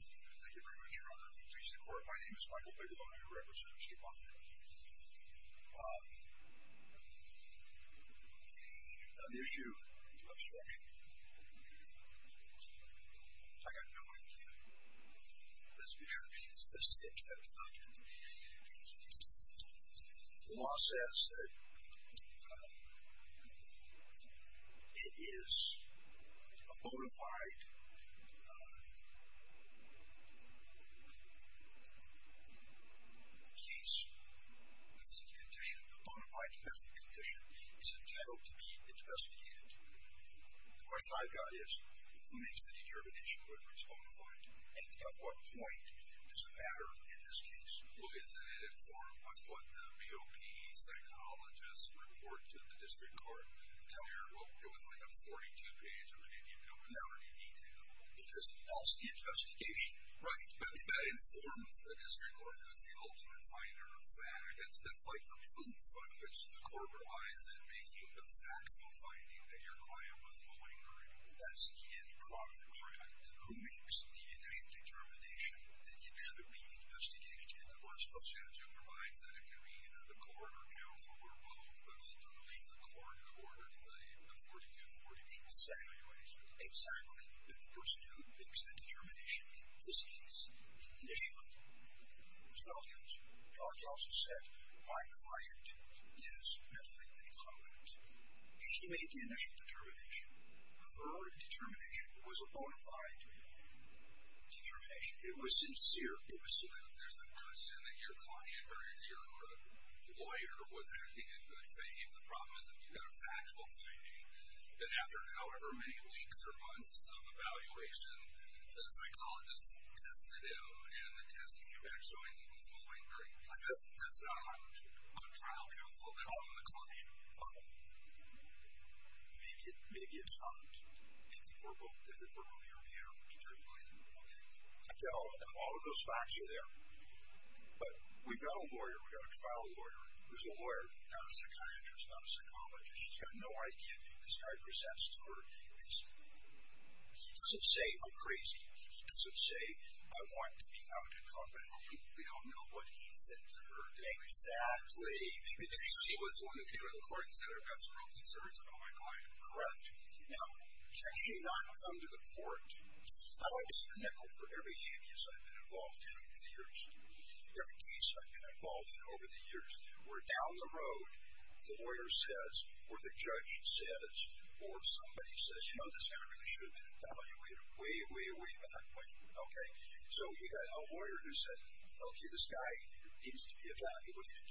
Thank you very much your honor. In the case of the court my name is Michael Bigelow and I represent Chief Bonnett. On the issue of extortion, I got no answer. The law says that it is a bona fide case, a bona fide domestic condition is entitled to be investigated. The question I've got is, who makes the determination whether it's bona fide? And at what point does it matter in this case? Well isn't it informed by what the P.O.P. psychologists report to the district court? No. It was like a 42 page opinion. No. Without any detail. Because it helps the investigation. Right. That informs the district court who's the ultimate finder of facts. That's like the proof on which the court relies in making the factual finding that your client was malingering. That's the end product. Correct. Who makes the inane determination? Did you have it being investigated? Of course. The statute provides that it can be either the court or counsel or both, but ultimately the court orders the 42-48. Exactly. Exactly. If the person who makes the determination in this case initially, as well as George also said, my client is mentally incognito, she made the initial determination, a verodic determination. It was a bona fide determination. It was sincere. It was sincere. There's a question that your client or your lawyer was acting in good faith. The problem is if you've got a factual finding, that after however many weeks or months of evaluation, the psychologist tested him and the test came back showing that he was malingering. That's on trial counsel. That's on the client. Maybe it's not. If the corporate lawyer knew. I think all of those facts are there. But we've got a lawyer. We've got a trial lawyer. There's a lawyer. Not a psychiatrist. Not a psychologist. He's got no idea. This guy presents to her and he doesn't say, I'm crazy. He doesn't say, I want to be out in public. We don't know what he said to her. Exactly. Maybe he was willing to go to the court and said, I've got some real concerns about my client. Correct. Now, he's actually not come to the court. I've always been a nickel for every case I've been involved in over the years. Every case I've been involved in over the years where down the road the lawyer says or the judge says or somebody says, you know, this guy really should be evaluated way, way, way back. Okay. So, you've got a lawyer who says, okay, this guy needs to be evaluated.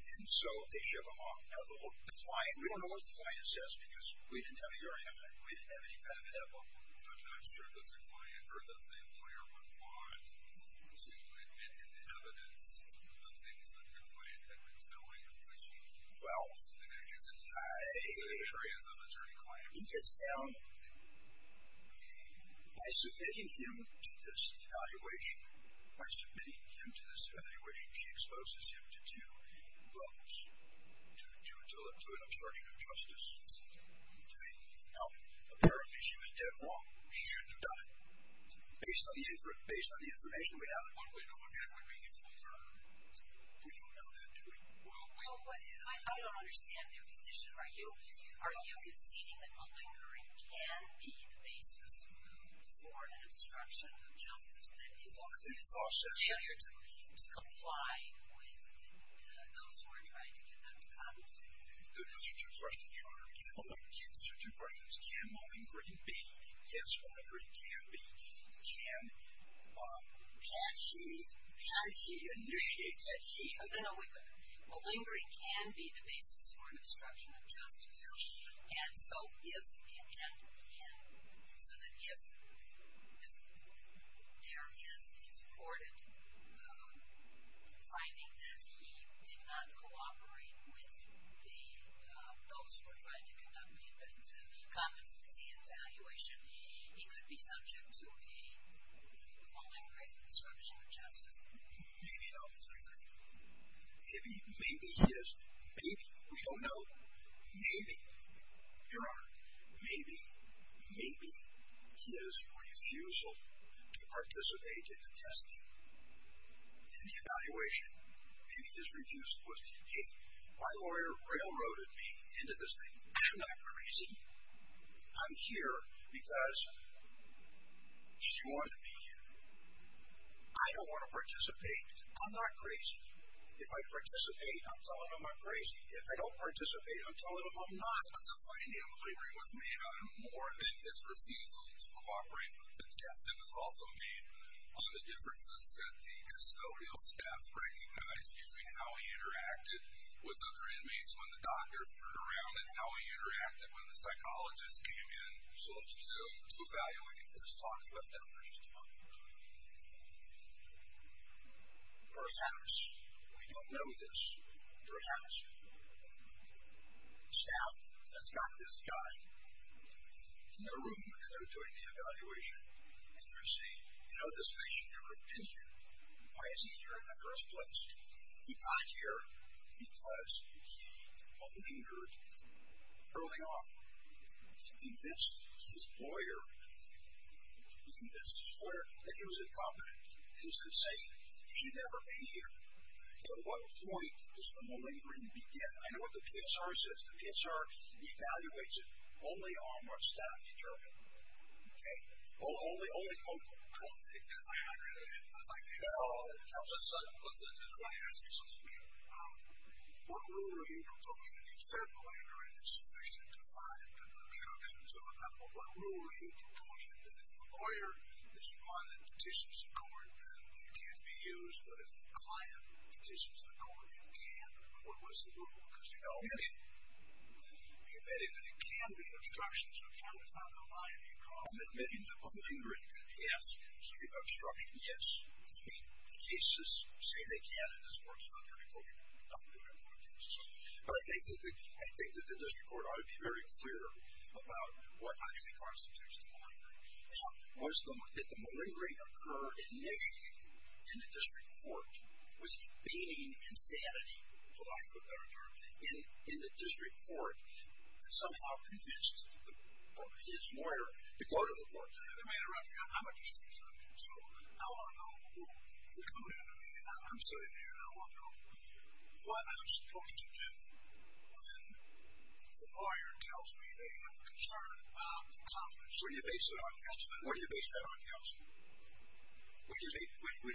And so, they ship him off. Now, the client, we don't know what the client says because we didn't have a hearing on it. We didn't have any kind of an evidence. I'm not sure that the client or the lawyer would want to admit evidence to the things that the client had been telling him. Well, I. He gets down. By submitting him to this evaluation, by submitting him to this evaluation, she exposes him to two levels, to an obstruction of justice. Now, apparently, she was dead wrong. She shouldn't have done it. Based on the information we have, we don't know that, do we? Well, I don't understand your position. Are you conceding that a lingering can be the basis for an obstruction of justice that is also a failure to comply with those who are trying to get them to come? Those are two questions. Oh, wait. Those are two questions. Can a lingering be? Yes, a lingering can be. Can. Had she. Had she initiated. Had she. No, no, no. A lingering can be the basis for an obstruction of justice. And so if. And so that if there is a supported finding that he did not cooperate with the, those who were trying to conduct the comments, the evaluation, he could be subject to a lingering obstruction of justice. Maybe not. Maybe he is. Maybe. We don't know. Maybe, Your Honor, maybe, maybe his refusal to participate in the testing and the evaluation, maybe his refusal was, hey, my lawyer railroaded me into this thing. I'm not crazy. I'm here because she wanted me here. I don't want to participate. I'm not crazy. If I participate, I'm telling them I'm crazy. If I don't participate, I'm telling them I'm not. But the finding of a lingering was made on more than his refusal to cooperate. It was also made on the differences that the custodial staff recognized between how he interacted with other inmates when the doctors turned around and how he interacted when the psychologists came in to evaluate him. Let's talk about that for just a moment. Perhaps, we don't know this. Perhaps staff has got this guy in the room when they're doing the evaluation and they're saying, you know, this patient never came here. Why is he here in the first place? He got here because he lingered early on. He convinced his lawyer. He convinced his lawyer that he was incompetent. He was insane. He should never be here. At what point does the lingering begin? I know what the PSR says. The PSR evaluates it only on what staff determine. Okay? Only local. I don't think that's accurate. No. It comes up suddenly. I just want to ask you something here. What rule were you proposing? You said the lingering is sufficiently defined and the instructions are enough. What rule were you proposing? That if the lawyer is fine in petitions in court, then he can't be used. But if the client petitions the court, he can't. What was the rule? Because, you know, you're admitting that it can be obstruction, so how does that align? I'm admitting the lingering. Yes. Obstruction, yes. I mean, the cases say they can and this works. It's not going to go to court. It's not going to go to court, yes. But I think that the district court ought to be very clear about what actually constitutes the lingering. Was the lingering occur initially in the district court? Was he feigning insanity, for lack of a better term, in the district court and somehow convinced his lawyer to go to the court? I'm a district attorney. So I want to know who can come in to me. I'm sitting here and I want to know what I'm supposed to do when the lawyer tells me they have a concern about the competence. So you base it on counsel. What do you base that on, counsel? What do you base that on? Counsel, if you can have them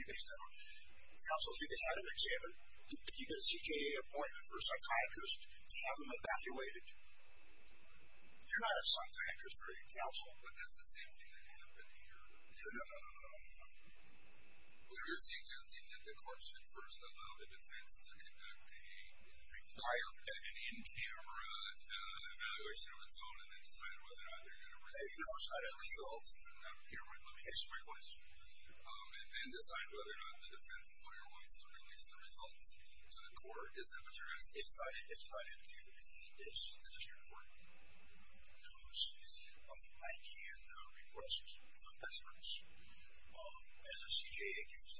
examined. Did you get a CJA appointment for a psychiatrist to have them evaluated? You're not a psychiatrist or a counsel. But that's the same thing that happened here. No, no, no, no, no, no, no. Well, you're suggesting that the court should first allow the defense to conduct an in-camera evaluation of its own and then decide whether or not they're going to release the results. Let me answer my question. And then decide whether or not the defense lawyer wants to release the results to the court. Is that what you're suggesting? It's not indicated to me. It's the district court. No, excuse me. I can request experts. As a CJA,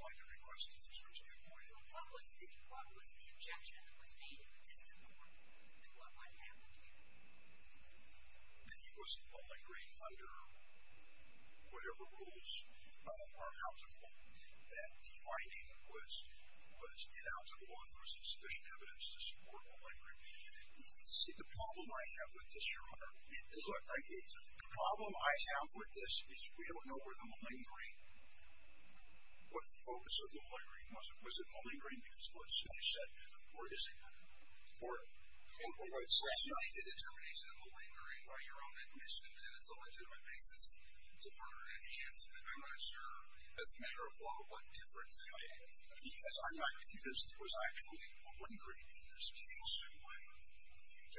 I can request experts at any point. What was the objection that was made in the district court to what might have happened here? That he was malingering under whatever rules are out of court. That the finding was out of court. There was sufficient evidence to support malingering. See, the problem I have with this, Your Honor, the problem I have with this is we don't know where the malingering, what the focus of the malingering was. Was it malingering because court said he said, or is it not? It was the determination of malingering by your own admission, and it's a legitimate basis to order an enhancement. I'm not sure, as a matter of law, what difference it made. Because I'm not convinced it was actually malingering in this case. Okay. Your Honor, it's so hard to hear you repeating because I have to. If you take the position you do, and the report comes back that he's malingering, and the corporation offices is going to recommend that an objection be applied, you have a factual issue, which is what's he malingering about, and you disagree with the report.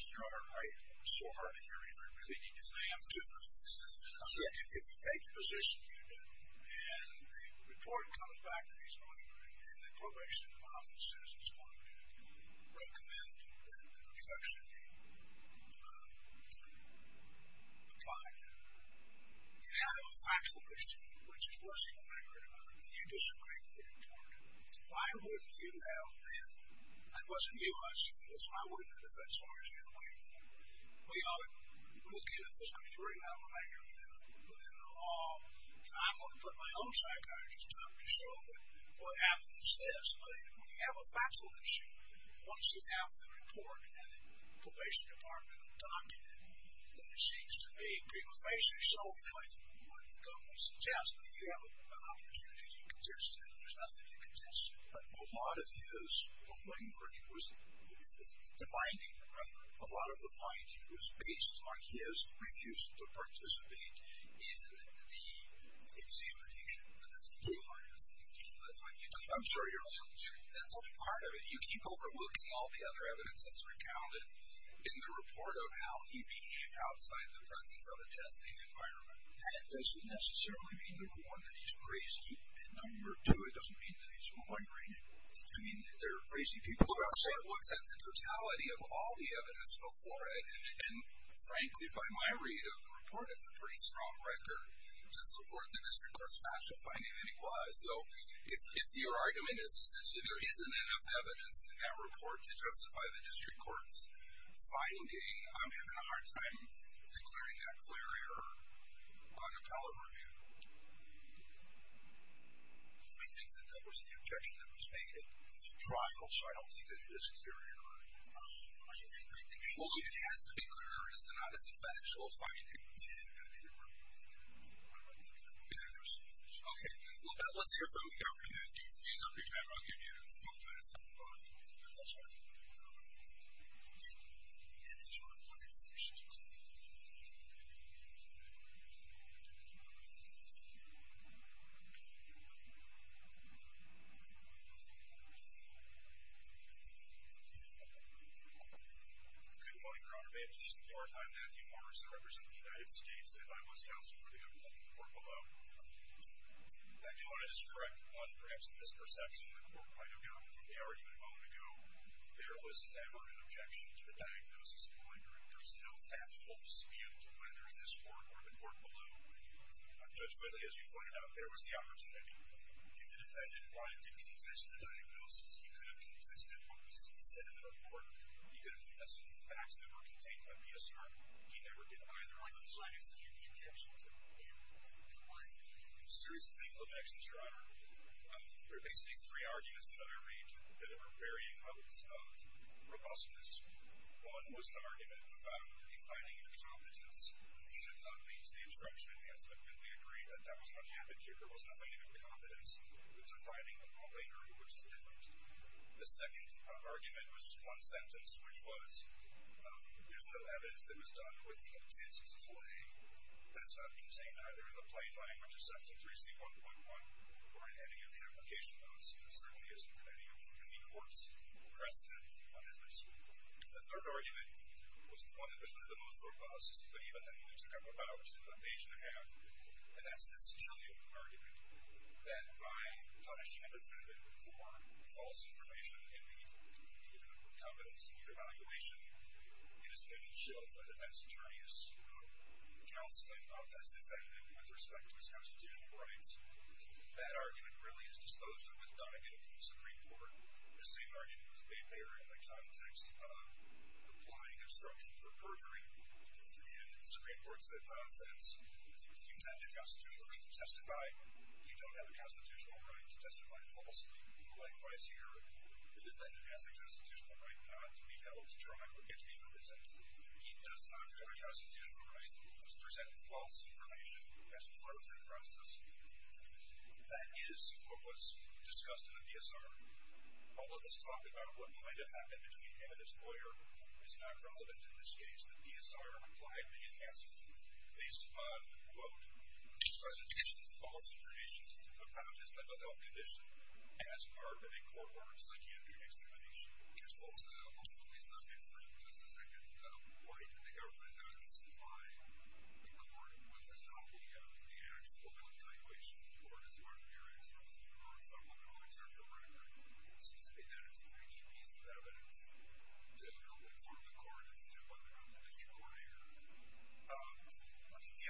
Why wouldn't you have been, and it wasn't you who had seen this, why wouldn't it have been, as far as you're aware? Well, Your Honor, we'll get into this, but you remember what I hear within the law, and I'm going to put my own psychiatrist up to show that what happened is this. But when you have a factual issue, once you have the report and the probation department will document it, then it seems to me people face it so frankly, when the government suggests that you have an opportunity to contest it, and there's nothing you can contest it. But a lot of his malingering was the binding, a lot of the finding was based on his refusal to participate in the examination. But that's the bottom line, I think. I'm sorry, Your Honor. That's only part of it. You keep overlooking all the other evidence that's recounted in the report of how he behaved outside the presence of a testing environment. And it doesn't necessarily mean, number one, that he's crazy, and number two, it doesn't mean that he's malingering. I mean, there are crazy people out there. But it looks at the totality of all the evidence before it, and frankly, by my read of the report, it's a pretty strong record to support the district court's factual finding that he was. So if your argument is essentially there isn't enough evidence in that report to justify the district court's finding, I'm having a hard time declaring that clear error on appellate review. I think that that was the objection that was made at trial, so I don't think that this is clear error. I think it has to be clear error. It's not as a factual finding. And I think it would be a mistake. Okay. Well, let's hear from you. I'll give you a couple minutes. Good morning, Your Honor. May it please the Court, I'm Matthew Morris. I represent the United States, and I was the counsel for the appellate report below. I do want to just correct on perhaps a misperception the court might have gotten from the argument a moment ago. There was never an objection to the diagnosis in my directory. There's no factual dispute whether this court or the court below. Judge Whitley, as you pointed out, there was the opportunity. If the defendant wanted to contest the diagnosis, he could have contested what was said in the report. He could have contested the facts that were contained in the BSR. He never did either. I would like to understand the objection to him. What was the objection? Serious legal objections, Your Honor. There are basically three arguments that I read that are varying modes of robustness. One was an argument about a finding of competence should not lead to the obstruction of advancement, and we agree that that was not happened here. There was no finding of competence. There was a finding later, which is different. The second argument was one sentence, which was, there's no evidence that was done with the intent to display. That's not contained either in the plain language of Section 3C.1.1 or in any of the application notes. There certainly isn't in any of the courts' precedent on this. The third argument was the one that was really the most robust, but even then it took a couple of hours, took about an age and a half, and that's the Sicilium argument, that by punishing a defendant for false information and the incompetence in your evaluation, it is going to shield the defense attorney's counsel and office, the defendant, with respect to his constitutional rights. That argument really is disposed of, withdrawn again from the Supreme Court. The same argument was made there in the context of applying obstruction for perjury, and the Supreme Court said nonsense. Do you have the constitutional right to testify? You don't have the constitutional right to testify falsely. Likewise here, the defendant has the constitutional right not to be held to trial if he presents. He does not have a constitutional right to present false information as part of that process. That is what was discussed in the PSR. All of this talk about what might have happened between him and his lawyer is not relevant in this case. The PSR replied to the incapacity based upon, quote, of his mental health condition as part of a court-ordered psychiatric examination. Just a second. Why did the government not testify in court, which is not the actual time in which the court is going to hear it? I'm assuming that it's an ancient piece of evidence to help inform the court as to whether or not there is a court here. The answer to that, Your Honor, is that only portions of that report, which were raised below, are before the court. So that's within the government's supplemental interest of the record. We obtained a copy of the full report that was filed under seal, and it was clearly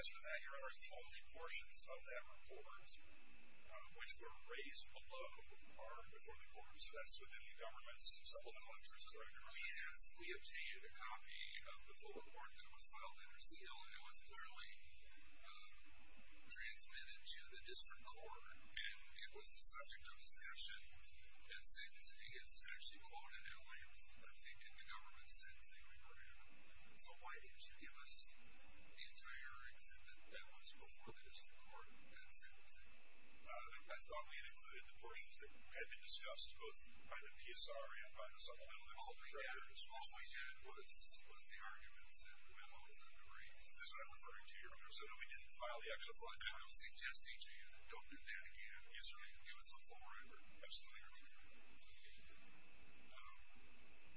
transmitted to the district court, and it was the subject of discussion. It's actually quoted in a way, I think, in the government's sentencing report. So why didn't you give us the entire exhibit that was before the district court at sentencing? I thought we had included the portions that had been discussed both by the PSR and by the supplemental interest of the record. All we did was the arguments and the memos and the briefs. This is what I'm referring to, Your Honor. So no, we didn't file the actual file. I'm suggesting to you, don't do that again. Yes, sir. Give us the full report. Absolutely, Your Honor.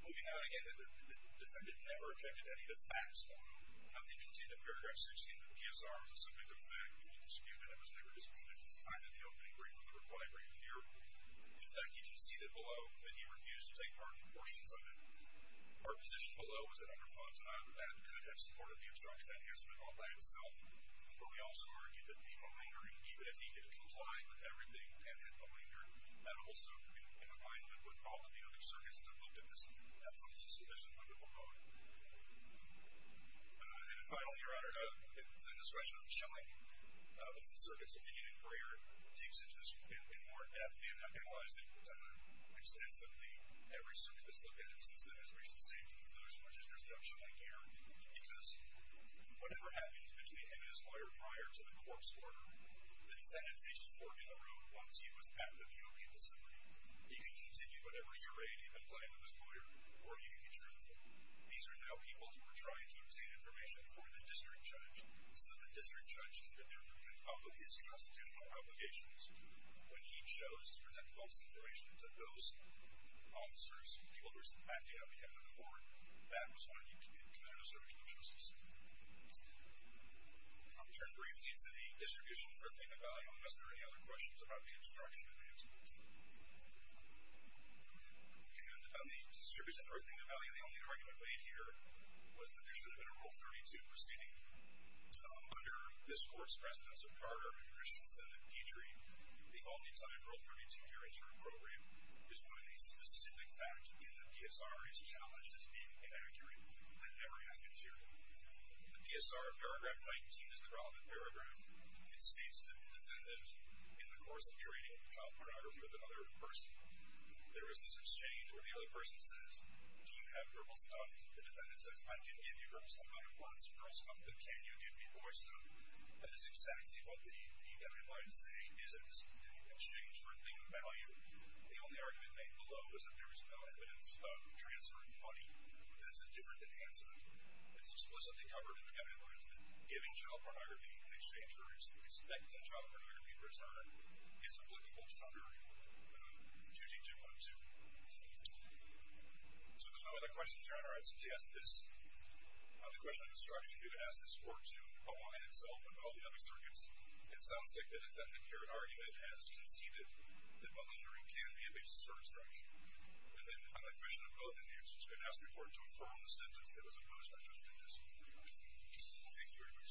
Moving on, again, the defendant never objected to any of the facts. Nothing contained in paragraph 16 of the PSR was the subject of fact. There was no dispute, and it was never disputed, either the opening brief or the reply brief here. In fact, you can see that below, that he refused to take part in portions of it. Our position below is that under Funt, Adam could have supported the obstruction enhancement all by himself, but we also argue that the remainder, even if he had complied with everything and had remainder, Adam also could have complied with all of the other circuits that looked at this at some sufficient level. And finally, Your Honor, under the discretion of Schilling, the circuit subdivision in Breyer takes into account more F than how penalized it is. I'm going to extend simply every circuit that's looked at since then has reached the same conclusion, as much as there's no Schilling here, because whatever happened to the evidence lawyer prior to the corpse order, the defendant faced a fork in the road once he was patented the opiate discipline. He can continue whatever charade he'd been playing with his lawyer, or he can be truthful. These are now people who are trying to obtain information for the district judge so that the district judge can determine and follow his constitutional obligations. When he chose to present false information to those officers, people who are submandated by the defendant in court, that was when he committed a service of no justice. I'll turn briefly to the distribution for Athena Valley. Are there any other questions about the obstruction enhancement? And on the distribution for Athena Valley, the only argument made here was that there should have been a Rule 32 proceeding. Under this court's presidency of Carter and Christensen and Petrie, the all-the-time Rule 32-gerratured program is one of the specific facts in the PSR is challenged as being inaccurate. That never happened here. The PSR, paragraph 19, is the relevant paragraph. It states that the defendant, in the course of training, has exchanged child pornography with another person. There is this exchange where the other person says, do you have girl stuff? The defendant says, I can give you girl stuff. I have lots of girl stuff, but can you give me boy stuff? That is exactly what the defendant might say is at this point in the exchange for Athena Valley. The only argument made below is that there is no evidence of transferring money. That's a different enhancement. It's explicitly covered in the evidence that giving child pornography in exchange for respect to child pornography in return is applicable to child pornography. 2G2102. So there's no other questions here. All right, so to ask this question of destruction, to ask this court to align itself with all the other circuits, it sounds like the defendant here, in argument, has conceded that money laundering can be a basis for destruction. And then, on admission of both, the answer is to ask the court to affirm the sentence that was opposed by Judge Bates. Thank you very much. I'll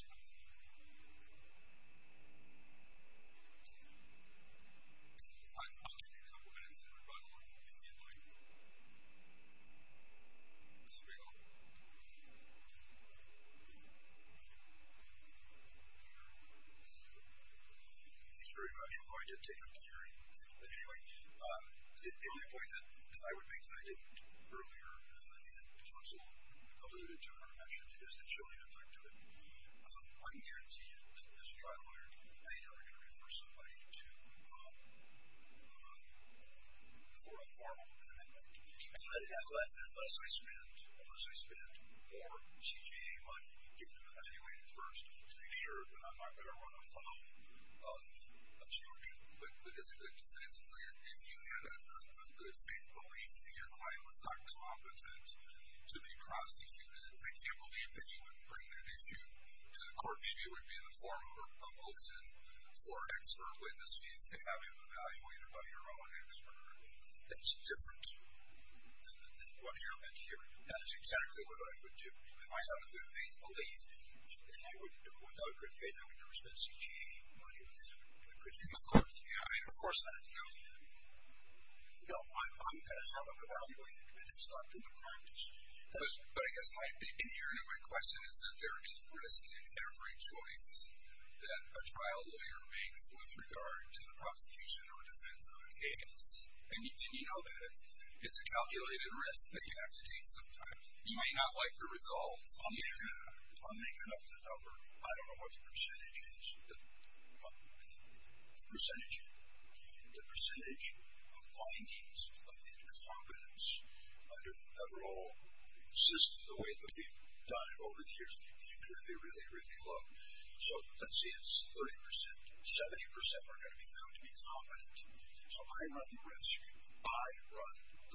give you a couple minutes, and we'll run along to the next slide. Here we go. Thank you very much. Although I did take up the hearing. Anyway, the only point that I would make, as I did earlier in the counsel alluded to and I mentioned, is the chilling effect of it. I can guarantee you that, as a trial lawyer, I am never going to refer somebody to the court of formal commitment. Unless I spend more CJA money, get them evaluated first, to make sure that I'm not going to run afoul of a judge. But as a defense lawyer, if you had a good faith belief that your client was not competent to be a prosecutor, I can't believe that you would bring that issue to the court. Maybe it would be in the form of a motion for expert witnesses to have him evaluated by your own expert. That's different than what happened here. That is exactly what I would do. If I have a good faith belief, and I would do it without a good faith, I would never spend CJA money on that. I mean, of course that is chilling. No, I'm going to have them evaluated. And that's not good practice. But I guess my inherent question is that there is risk in every choice that a trial lawyer makes with regard to the prosecution or defense of a case. And you know that. It's a calculated risk that you have to take sometimes. You might not like the results. I'll make it up the number. I don't know what the percentage is. The percentage of findings of incompetence under the federal system, the way that we've done it over the years, is really, really low. So let's say it's 30%. 70% are going to be found to be incompetent. So I run the risk. I run the risk of some staffer saying, He may be right. We don't know.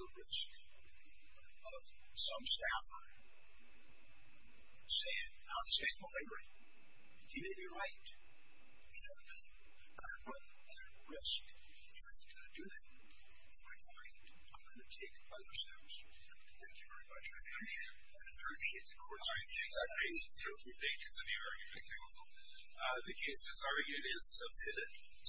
I run the risk. He isn't going to do that. We're going to find, we're going to take it by ourselves. Thank you very much. I appreciate the question. Thank you. Thank you. Thank you. Thank you. Thank you. Thank you. Thank you. Thank you. Thank you.